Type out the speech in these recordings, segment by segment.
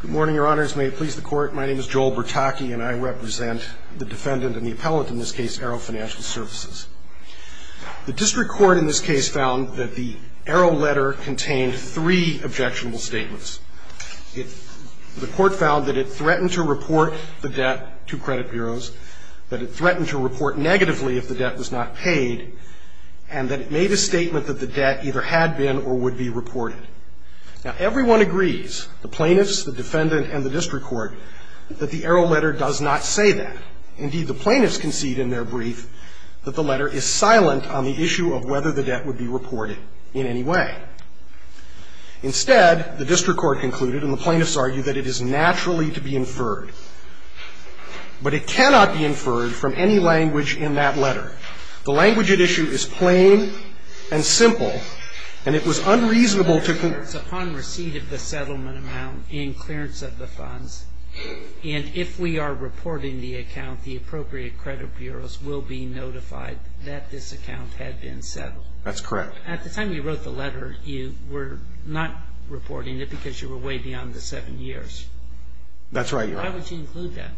Good morning, your honors. May it please the court, my name is Joel Bertocchi and I represent the defendant and the appellate in this case, Arrow Financial Services. The district court in this case found that the Arrow letter contained three objectionable statements. The court found that it threatened to report the debt to credit bureaus, that it threatened to report negatively if the debt was not paid, and that it made a statement that the debt either had been or would be reported. Now, everyone agrees, the plaintiffs, the defendant, and the district court, that the Arrow letter does not say that. Indeed, the plaintiffs concede in their brief that the letter is silent on the issue of whether the debt would be reported in any way. Instead, the district court concluded, and the plaintiffs argue, that it is naturally to be inferred. But it cannot be inferred from any language in that letter. The language at issue is plain and simple, and it was unreasonable to conclude that the debt would be reported in any way. The letter is upon receipt of the settlement amount in clearance of the funds, and if we are reporting the account, the appropriate credit bureaus will be notified that this account had been settled. That's correct. At the time you wrote the letter, you were not reporting it because you were way beyond the seven years. That's right, your honor. Why would you include that?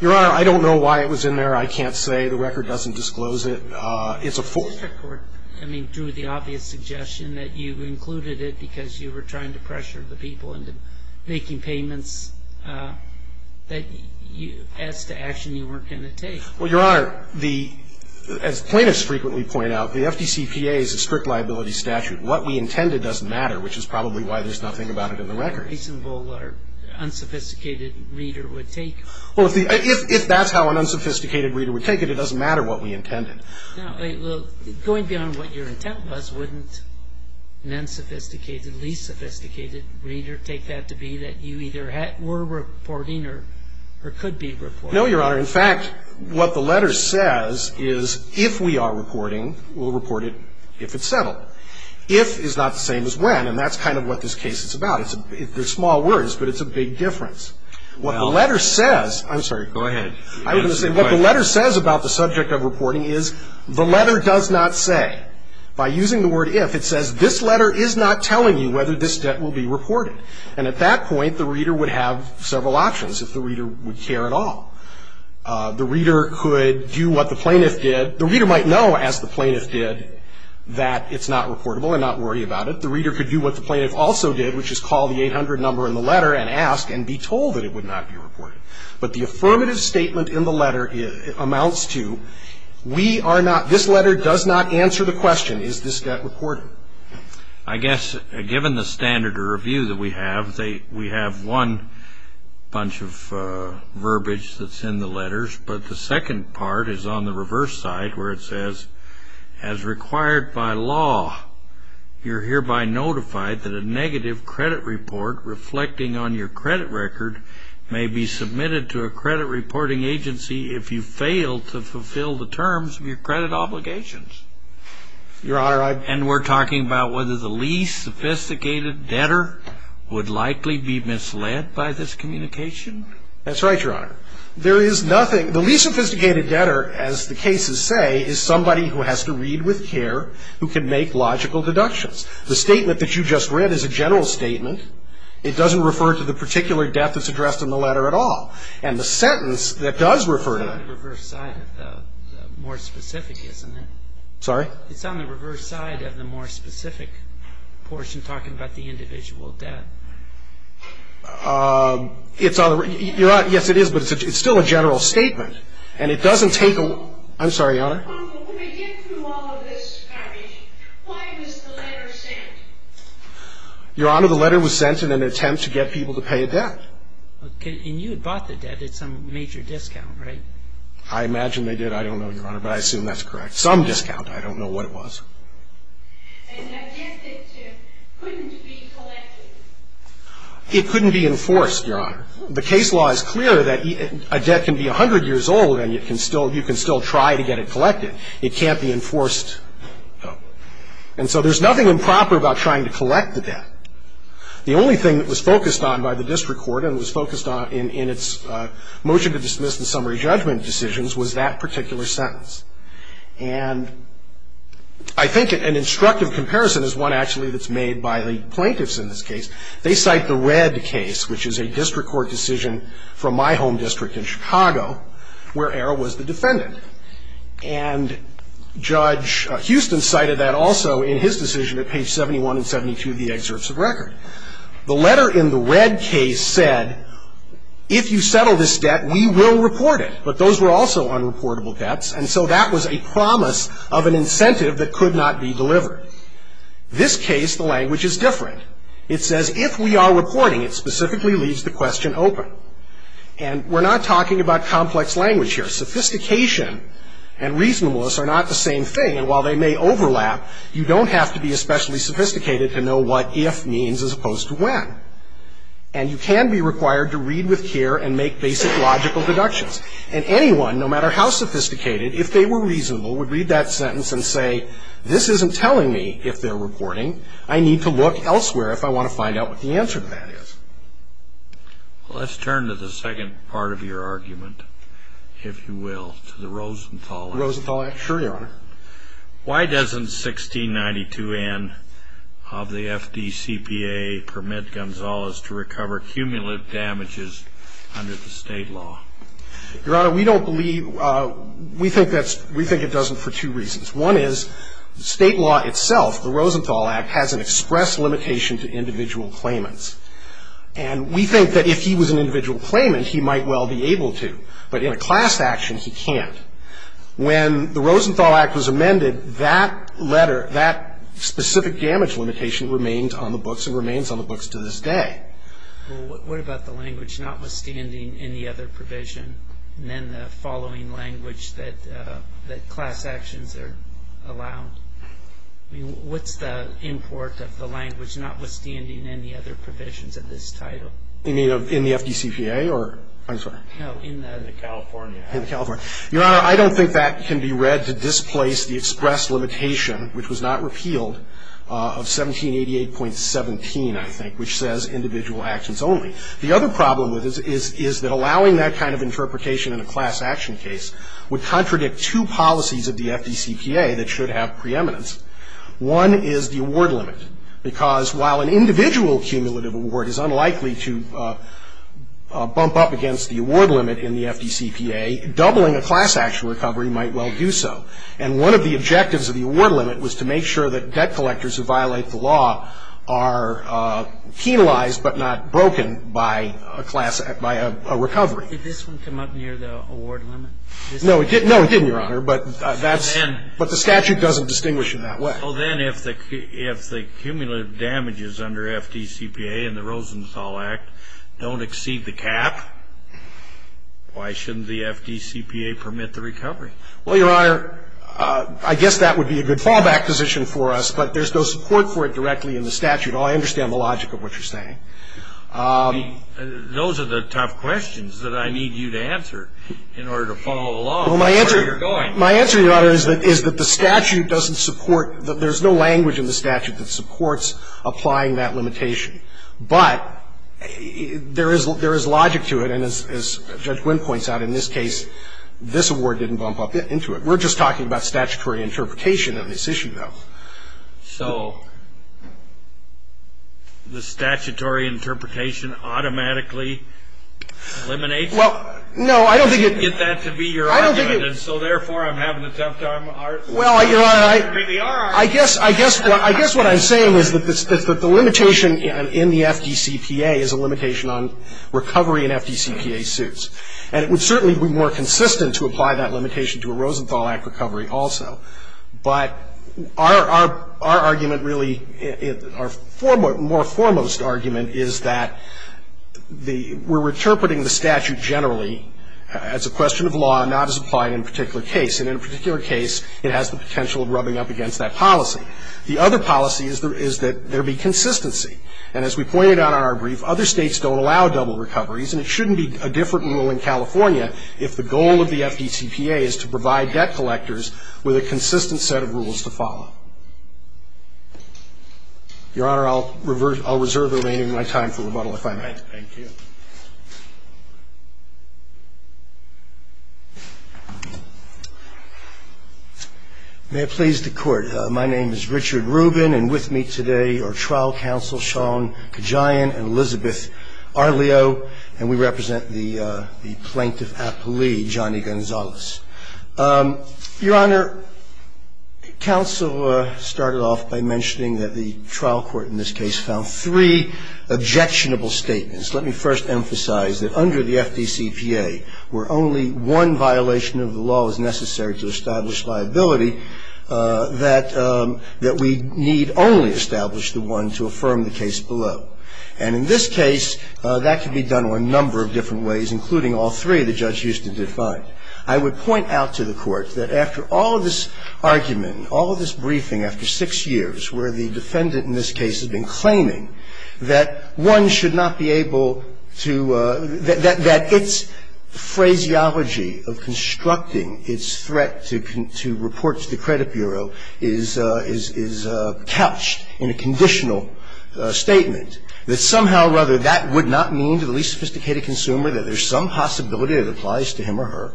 Your honor, I don't know why it was in there. I can't say. The record doesn't disclose it. It's a full. The district court, I mean, drew the obvious suggestion that you included it because you were trying to pressure the people into making payments that, as to action, you weren't going to take. Well, your honor, the, as plaintiffs frequently point out, the FDCPA is a strict liability statute. What we intended doesn't matter, which is probably why there's nothing about it in the record. Well, if that's how an unsophisticated reader would take it, it doesn't matter what we intended. Well, going beyond what your intent was, wouldn't an unsophisticated, least sophisticated reader take that to be that you either were reporting or could be reporting? No, your honor. In fact, what the letter says is if we are reporting, we'll report it if it's settled. If is not the same as when, and that's kind of what this case is about. They're small words, but it's a big difference. What the letter says. I'm sorry. Go ahead. I was going to say what the letter says about the subject of reporting is the letter does not say. By using the word if, it says this letter is not telling you whether this debt will be reported. And at that point, the reader would have several options if the reader would care at all. The reader could do what the plaintiff did. The reader might know, as the plaintiff did, that it's not reportable and not worry about it. The reader could do what the plaintiff also did, which is call the 800 number in the letter and ask and be told that it would not be reported. But the affirmative statement in the letter amounts to we are not, this letter does not answer the question, is this debt reported? I guess given the standard of review that we have, we have one bunch of verbiage that's in the letters. But the second part is on the reverse side where it says, as required by law, you're hereby notified that a negative credit report reflecting on your credit record may be submitted to a credit reporting agency if you fail to fulfill the terms of your credit obligations. Your Honor, I. And we're talking about whether the least sophisticated debtor would likely be misled by this communication? That's right, Your Honor. There is nothing, the least sophisticated debtor, as the cases say, is somebody who has to read with care, who can make logical deductions. The statement that you just read is a general statement. It doesn't refer to the particular debt that's addressed in the letter at all. And the sentence that does refer to it. It's on the reverse side of the more specific, isn't it? Sorry? It's on the reverse side of the more specific portion talking about the individual debt. It's on the reverse. Yes, it is, but it's still a general statement. And it doesn't take a lot. I'm sorry, Your Honor. When we get through all of this garbage, why was the letter sent? Your Honor, the letter was sent in an attempt to get people to pay a debt. And you had bought the debt at some major discount, right? I imagine they did. I don't know, Your Honor, but I assume that's correct. Some discount. I don't know what it was. And I guess it couldn't be collected. It couldn't be enforced, Your Honor. The case law is clear that a debt can be 100 years old and you can still try to get it collected. It can't be enforced. And so there's nothing improper about trying to collect the debt. The only thing that was focused on by the district court and was focused on in its motion to dismiss the summary judgment decisions was that particular sentence. And I think an instructive comparison is one actually that's made by the plaintiffs in this case. They cite the red case, which is a district court decision from my home district in Chicago, where Arrow was the defendant. And Judge Houston cited that also in his decision at page 71 and 72 of the excerpts of record. The letter in the red case said, if you settle this debt, we will report it. But those were also unreportable debts, and so that was a promise of an incentive that could not be delivered. This case, the language is different. It says, if we are reporting, it specifically leaves the question open. And we're not talking about complex language here. Sophistication and reasonableness are not the same thing. And while they may overlap, you don't have to be especially sophisticated to know what if means as opposed to when. And you can be required to read with care and make basic logical deductions. And anyone, no matter how sophisticated, if they were reasonable, would read that sentence and say, this isn't telling me if they're reporting. I need to look elsewhere if I want to find out what the answer to that is. Let's turn to the second part of your argument, if you will, to the Rosenthal Act. The Rosenthal Act. Sure, Your Honor. Why doesn't 1692N of the FDCPA permit Gonzalez to recover cumulative damages under the state law? Your Honor, we don't believe we think it doesn't for two reasons. One is state law itself, the Rosenthal Act, has an express limitation to individual claimants. And we think that if he was an individual claimant, he might well be able to. But in a class action, he can't. When the Rosenthal Act was amended, that letter, that specific damage limitation remained on the books and remains on the books to this day. Well, what about the language notwithstanding any other provision, and then the following language that class actions are allowed? I mean, what's the import of the language notwithstanding any other provisions of this title? You mean in the FDCPA or? I'm sorry. No, in the California Act. In California. Your Honor, I don't think that can be read to displace the express limitation, which was not repealed, of 1788.17, I think, which says individual actions only. The other problem is that allowing that kind of interpretation in a class action case would contradict two policies of the FDCPA that should have preeminence. One is the award limit, because while an individual cumulative award is unlikely to bump up against the award limit in the FDCPA, doubling a class action recovery might well do so. And one of the objectives of the award limit was to make sure that debt collectors who violate the law are penalized but not broken by a class, by a recovery. Did this one come up near the award limit? No, it didn't. No, it didn't, Your Honor. But that's. But then. But the statute doesn't distinguish in that way. Well, then, if the cumulative damages under FDCPA and the Rosenthal Act don't exceed the cap, why shouldn't the FDCPA permit the recovery? Well, Your Honor, I guess that would be a good fallback position for us, but there's no support for it directly in the statute. All I understand is the logic of what you're saying. Those are the tough questions that I need you to answer in order to follow the law. Well, my answer. That's where you're going. There's no language in the statute that supports applying that limitation. But there is logic to it. And as Judge Wynn points out, in this case, this award didn't bump up into it. We're just talking about statutory interpretation of this issue, though. So the statutory interpretation automatically eliminates it? Well, no, I don't think it. I didn't get that to be your argument. I don't think it. And so, therefore, I'm having a tough time arguing. Well, Your Honor, I guess what I'm saying is that the limitation in the FDCPA is a limitation on recovery in FDCPA suits. And it would certainly be more consistent to apply that limitation to a Rosenthal Act recovery also. But our argument really, our more foremost argument is that the we're interpreting the statute generally as a question of law, not as applied in a particular case. And in a particular case, it has the potential of rubbing up against that policy. The other policy is that there be consistency. And as we pointed out in our brief, other states don't allow double recoveries. And it shouldn't be a different rule in California if the goal of the FDCPA is to provide debt collectors with a consistent set of rules to follow. Your Honor, I'll reserve the remaining of my time for rebuttal if I may. Thank you. Thank you. May it please the Court. My name is Richard Rubin, and with me today are trial counsel Sean Kajian and Elizabeth Arleo, and we represent the plaintiff appellee, Johnny Gonzalez. Your Honor, counsel started off by mentioning that the trial court in this case found three objectionable statements. Let me first emphasize that under the FDCPA, where only one violation of the law is necessary to establish liability, that we need only establish the one to affirm the case below. And in this case, that can be done a number of different ways, including all three that Judge Houston defined. I would point out to the Court that after all of this argument, all of this briefing after six years where the defendant in this case has been claiming that one should not be able to, that its phraseology of constructing its threat to report to the credit bureau is couched in a conditional statement, that somehow or other that would not mean to the least sophisticated consumer that there's some possibility it applies to him or her,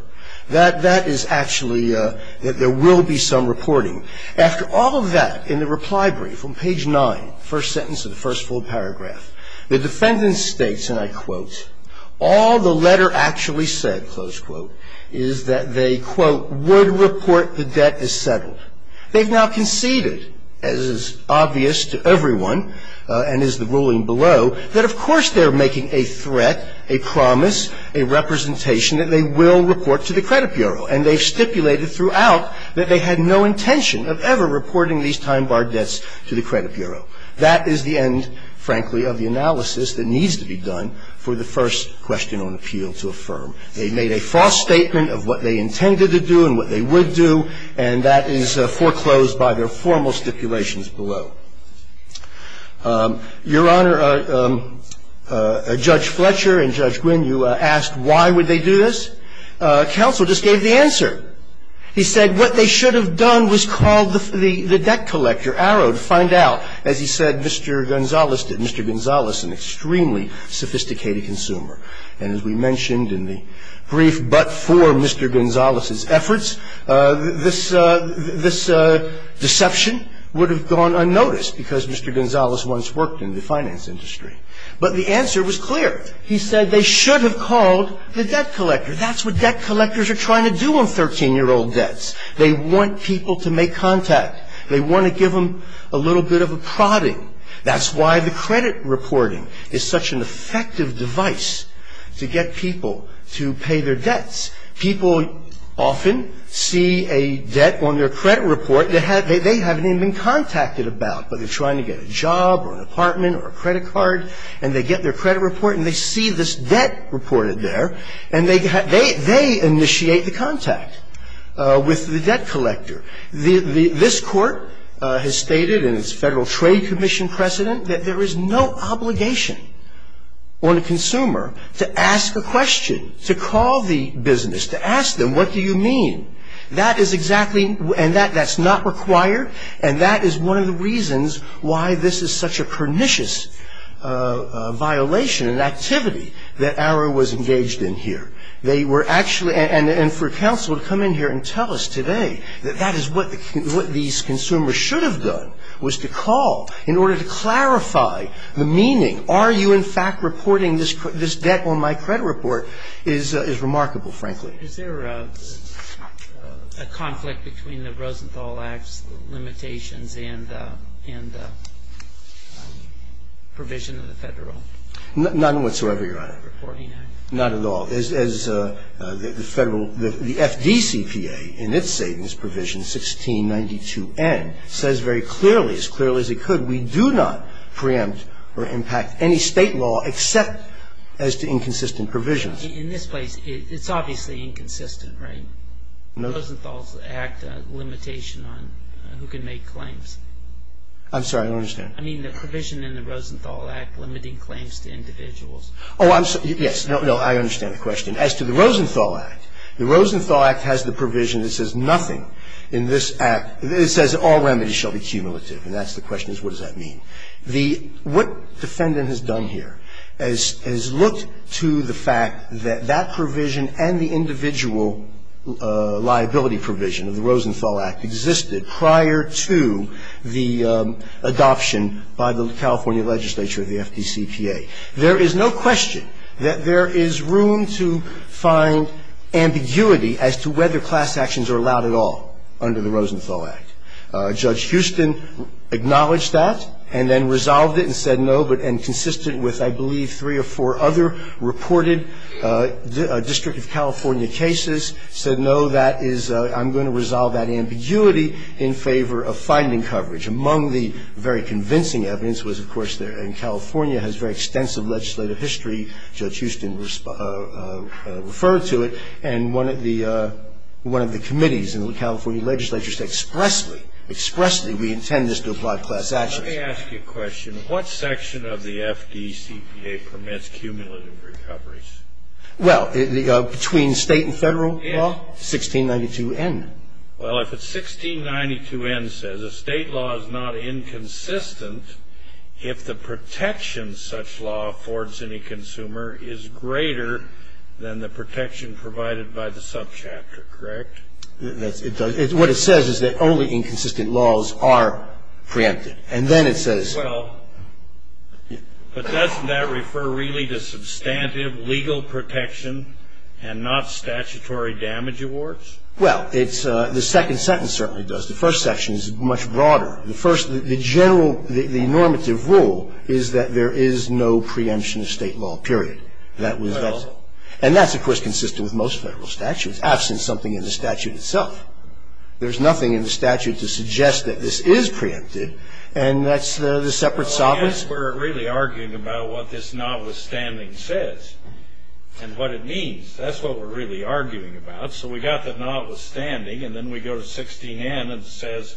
that that is actually, that there will be some reporting. After all of that, in the reply brief on page 9, first sentence of the first full paragraph, the defendant states, and I quote, all the letter actually said, close quote, is that they, quote, would report the debt as settled. They've now conceded, as is obvious to everyone and is the ruling below, that of course they're making a threat, a promise, a representation that they will report to the credit bureau, and they've stipulated throughout that they had no intention of ever reporting these time-barred debts to the credit bureau. That is the end, frankly, of the analysis that needs to be done for the first question on appeal to affirm. They made a false statement of what they intended to do and what they would do, and that is foreclosed by their formal stipulations below. Your Honor, Judge Fletcher and Judge Gwynne, you asked why would they do this. Counsel just gave the answer. He said what they should have done was called the debt collector, arrowed, find out. As he said, Mr. Gonzales did. Mr. Gonzales, an extremely sophisticated consumer. And as we mentioned in the brief, but for Mr. Gonzales's efforts, this deception would have gone unnoticed because Mr. Gonzales once worked in the finance industry. But the answer was clear. He said they should have called the debt collector. That's what debt collectors are trying to do on 13-year-old debts. They want people to make contact. They want to give them a little bit of a prodding. That's why the credit reporting is such an effective device to get people to pay their debts. People often see a debt on their credit report. They haven't even been contacted about, but they're trying to get a job or an apartment or a credit card, and they get their credit report and they see this debt reported there, and they initiate the contact with the debt collector. This Court has stated in its Federal Trade Commission precedent that there is no obligation on a consumer to ask a question, to call the business, to ask them what do you mean. That is exactly, and that's not required, and that is one of the reasons why this is such a pernicious violation and activity that Arrow was engaged in here. They were actually, and for counsel to come in here and tell us today that that is what these consumers should have done was to call in order to clarify the meaning. Are you in fact reporting this debt on my credit report is remarkable, frankly. Is there a conflict between the Rosenthal Act's limitations and the provision of the Federal? None whatsoever, Your Honor. Not at all. As the Federal, the FDCPA in its savings provision, 1692N, says very clearly, as clearly as it could, we do not preempt or impact any State law except as to inconsistent provisions. In this place, it's obviously inconsistent, right? No. Rosenthal's Act limitation on who can make claims. I'm sorry, I don't understand. I mean the provision in the Rosenthal Act limiting claims to individuals. Oh, I'm sorry. Yes. No, I understand the question. As to the Rosenthal Act, the Rosenthal Act has the provision that says nothing in this Act. It says all remedies shall be cumulative, and that's the question is what does that mean? What defendant has done here is looked to the fact that that provision and the individual liability provision of the Rosenthal Act existed prior to the adoption by the California legislature of the FDCPA. There is no question that there is room to find ambiguity as to whether class actions are allowed at all under the Rosenthal Act. Judge Houston acknowledged that and then resolved it and said no, and consistent with, I believe, three or four other reported District of California cases, said no, that is I'm going to resolve that ambiguity in favor of finding coverage. Among the very convincing evidence was, of course, and California has very extensive legislative history, Judge Houston referred to it, and one of the committees in the California legislature said expressly, expressly we intend this to apply to class actions. Let me ask you a question. What section of the FDCPA permits cumulative recoveries? Well, between State and Federal law? Yes. 1692N. Well, if it's 1692N says a State law is not inconsistent if the protection such law affords any consumer is greater than the protection provided by the subchapter, correct? It does. What it says is that only inconsistent laws are preempted. And then it says. Well, but doesn't that refer really to substantive legal protection and not statutory damage awards? Well, it's the second sentence certainly does. The first section is much broader. The first, the general, the normative rule is that there is no preemption of State law, period. Well. And that's, of course, consistent with most Federal statutes, absent something in the statute itself. There's nothing in the statute to suggest that this is preempted, and that's the separate solvents. Well, I guess we're really arguing about what this notwithstanding says and what it means. That's what we're really arguing about. So we got the notwithstanding, and then we go to 16N and it says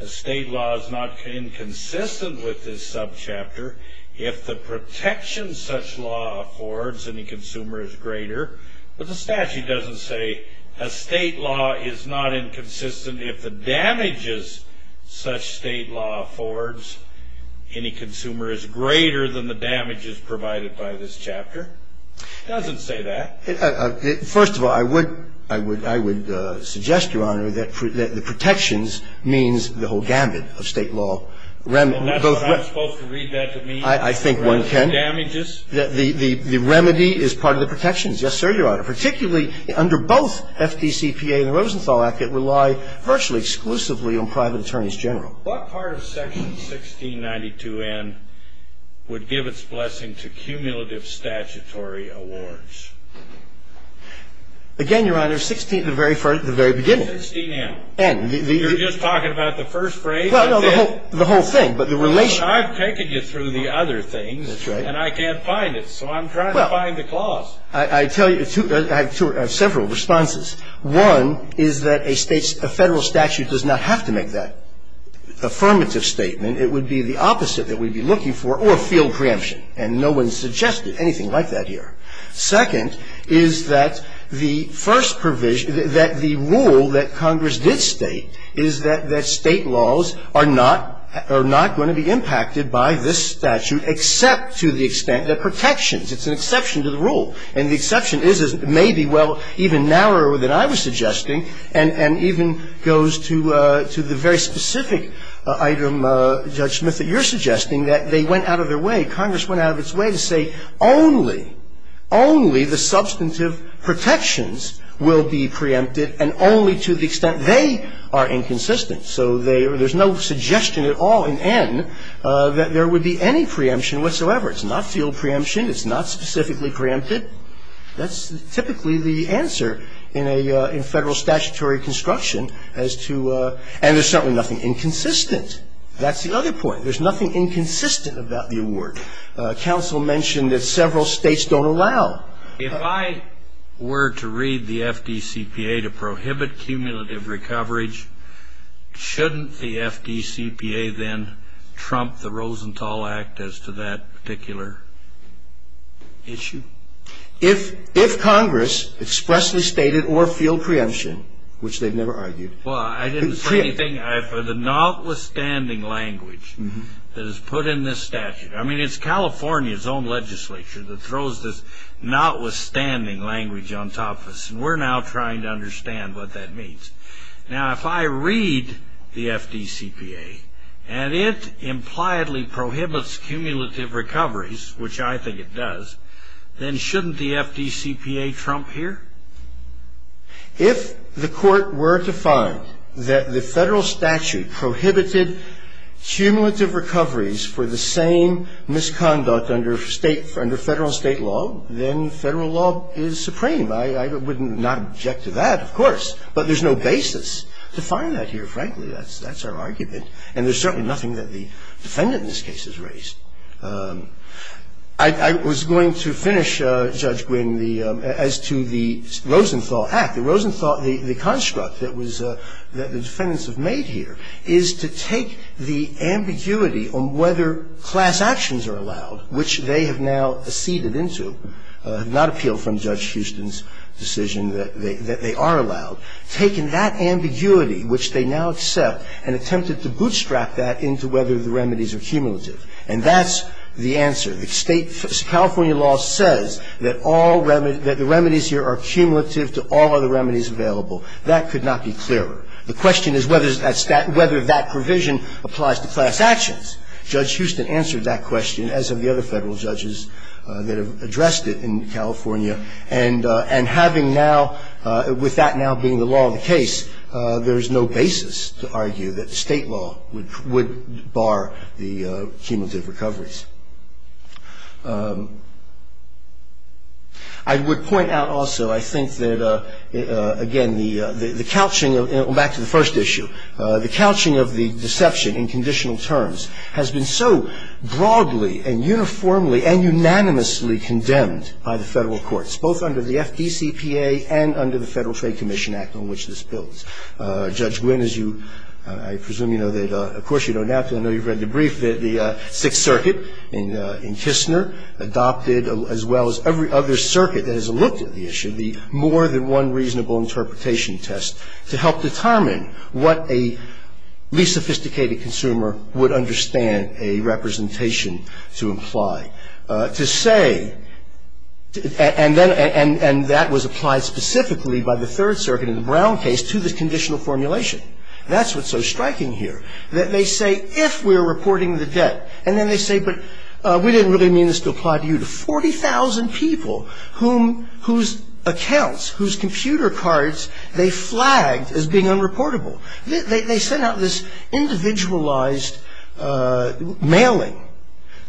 a State law is not inconsistent with this subchapter if the protection such law affords any consumer is greater. But the statute doesn't say a State law is not inconsistent if the damages such State law affords any consumer is greater than the damages provided by this chapter. It doesn't say that. First of all, I would suggest, Your Honor, that the protections means the whole gambit of State law. And that's what I'm supposed to read that to mean? I think one can. The damages? The remedy is part of the protections. Yes, sir, Your Honor. Particularly under both FDCPA and the Rosenthal Act, it relied virtually exclusively on private attorneys general. What part of section 1692N would give its blessing to cumulative statutory awards? Again, Your Honor, 16 at the very beginning. 16N. N. You're just talking about the first phrase? Well, no, the whole thing, but the relation. I've taken you through the other things. That's right. And I can't find it, so I'm trying to find the clause. Well, I tell you, I have several responses. One is that a Federal statute does not have to make that affirmative statement. It would be the opposite that we'd be looking for, or field preemption. And no one suggested anything like that here. Second is that the first provision, that the rule that Congress did state is that State laws are not going to be impacted by this statute except to the extent that protections. It's an exception to the rule. And the exception is maybe, well, even narrower than I was suggesting, and even goes to the very specific item, Judge Smith, that you're suggesting, that they went out of their way. Congress went out of its way to say only, only the substantive protections will be preempted, and only to the extent they are inconsistent. So there's no suggestion at all in N that there would be any preemption whatsoever. It's not field preemption. It's not specifically preempted. That's typically the answer in a Federal statutory construction as to – and there's certainly nothing inconsistent. That's the other point. There's nothing inconsistent about the award. Counsel mentioned that several States don't allow. If I were to read the FDCPA to prohibit cumulative recovery, shouldn't the FDCPA then trump the Rosenthal Act as to that particular issue? If Congress expressly stated or field preemption, which they've never argued. Well, I didn't say anything. For the notwithstanding language that is put in this statute. I mean, it's California's own legislature that throws this notwithstanding language on top of us, and we're now trying to understand what that means. Now, if I read the FDCPA and it impliedly prohibits cumulative recoveries, which I think it does, then shouldn't the FDCPA trump here? If the Court were to find that the Federal statute prohibited cumulative recoveries for the same misconduct under State – under Federal State law, then Federal law is supreme. I would not object to that, of course. But there's no basis to find that here, frankly. That's our argument. I was going to finish, Judge Green, the – as to the Rosenthal Act. The Rosenthal – the construct that was – that the defendants have made here is to take the ambiguity on whether class actions are allowed, which they have now acceded into, not appeal from Judge Houston's decision that they are allowed, taken that ambiguity, which they now accept, and attempted to bootstrap that into whether the remedies are cumulative. And that's the answer. The State – California law says that all remedies – that the remedies here are cumulative to all other remedies available. That could not be clearer. The question is whether that provision applies to class actions. Judge Houston answered that question, as have the other Federal judges that have addressed it in California. And having now – with that now being the law of the case, there is no basis to I would point out also, I think, that, again, the couching – back to the first issue – the couching of the deception in conditional terms has been so broadly and uniformly and unanimously condemned by the Federal courts, both under the FDCPA and under the Federal Trade Commission Act on which this builds. Judge Gwynne, as you – I presume you know that – of course, you don't have to. I know you've read the brief that the Sixth Circuit in Kistner adopted, as well as every other circuit that has looked at the issue, the more than one reasonable interpretation test to help determine what a least sophisticated consumer would understand a representation to imply. To say – and that was applied specifically by the Third Circuit in the Brown case to the conditional formulation. That's what's so striking here, that they say, if we're reporting the debt, and then they say, but we didn't really mean this to apply to you, to 40,000 people whose accounts, whose computer cards they flagged as being unreportable. They sent out this individualized mailing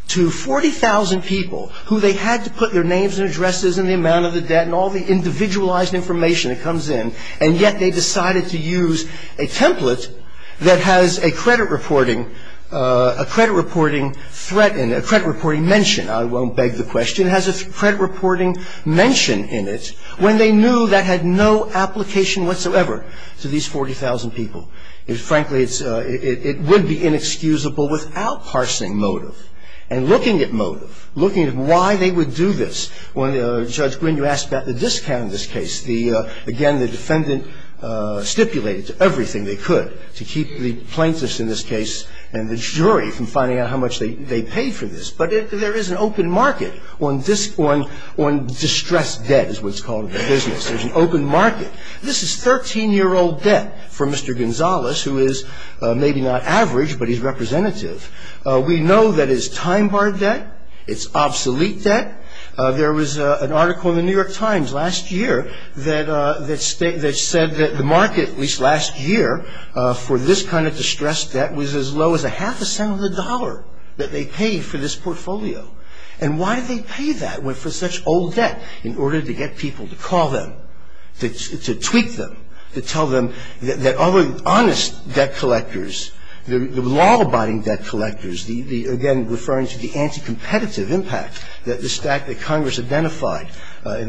to 40,000 people who they had to put their names and addresses and the amount of the debt and all the individualized information that comes in, and yet they decided to use a template that has a credit reporting threat in it, a credit reporting mention. I won't beg the question. It has a credit reporting mention in it when they knew that had no application whatsoever to these 40,000 people. Frankly, it would be inexcusable without parsing motive and looking at motive, looking at why they would do this. When Judge Gwinn, you asked about the discount in this case, the – again, the defendant stipulated to everything they could to keep the plaintiffs in this case and the jury from finding out how much they paid for this. But there is an open market on distressed debt is what's called in the business. There's an open market. This is 13-year-old debt for Mr. Gonzalez, who is maybe not average, but he's representative. We know that it's time-barred debt. It's obsolete debt. There was an article in the New York Times last year that said that the market, at least last year, for this kind of distressed debt was as low as a half a cent of the dollar that they paid for this portfolio. And why did they pay that for such old debt? In order to get people to call them, to tweak them, to tell them that other honest debt collectors, in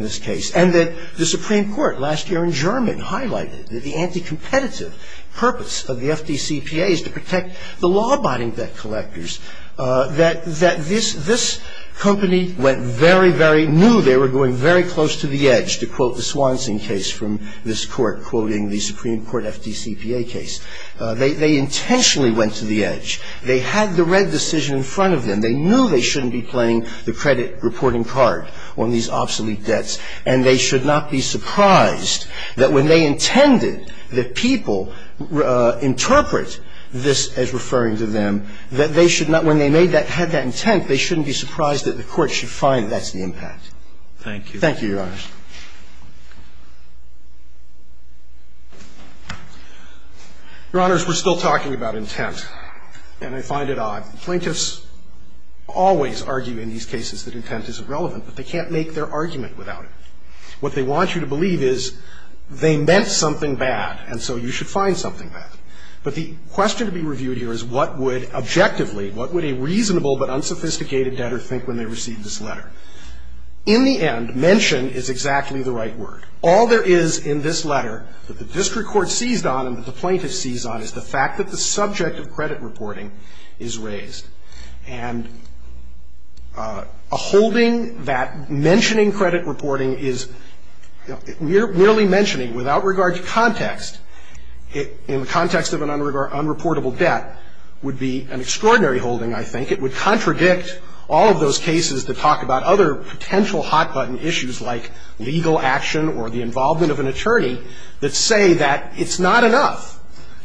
this case, and that the Supreme Court, last year in German, highlighted that the anti-competitive purpose of the FDCPA is to protect the law-abiding debt collectors, that this company went very, very – knew they were going very close to the edge, to quote the Swanson case from this Court, quoting the Supreme Court FDCPA case. They intentionally went to the edge. They had the red decision in front of them. They knew they shouldn't be playing the credit reporting card on these obsolete debts. And they should not be surprised that when they intended that people interpret this as referring to them, that they should not – when they made that – had that intent, they shouldn't be surprised that the Court should find that that's the impact. Thank you. Thank you, Your Honors. Your Honors, we're still talking about intent, and I find it odd. Plaintiffs always argue in these cases that intent is irrelevant, but they can't make their argument without it. What they want you to believe is they meant something bad, and so you should find something bad. But the question to be reviewed here is what would, objectively, what would a reasonable but unsophisticated debtor think when they received this letter. In the end, mention is exactly the right word. All there is in this letter that the district court seized on and that the plaintiff seized on is the fact that the subject of credit reporting is raised. And a holding that mentioning credit reporting is – merely mentioning without regard to context, in the context of an unreportable debt, would be an extraordinary holding, I think. It would contradict all of those cases that talk about other potential hot-button issues like legal action or the involvement of an attorney that say that it's not enough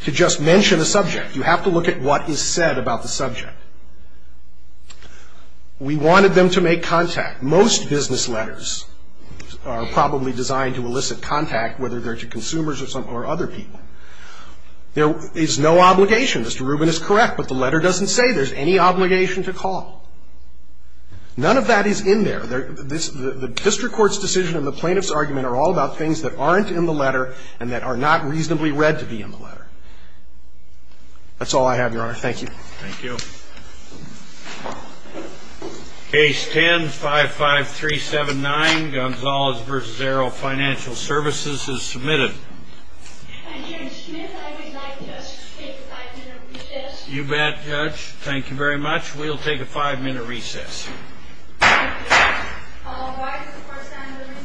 to just mention a subject. You have to look at what is said about the subject. We wanted them to make contact. Most business letters are probably designed to elicit contact, whether they're to consumers or other people. There is no obligation. Mr. Rubin is correct, but the letter doesn't say there's any obligation to call. None of that is in there. The district court's decision and the plaintiff's argument are all about things that aren't in the letter and that are not reasonably read to be in the letter. That's all I have, Your Honor. Thank you. Thank you. Case 10-55379, Gonzales v. Arrow Financial Services is submitted. Judge Smith, I would like to take a five-minute recess. You bet, Judge. Thank you very much. We'll take a five-minute recess. Thank you, Your Honor. All rise for a sign of the recess for five minutes.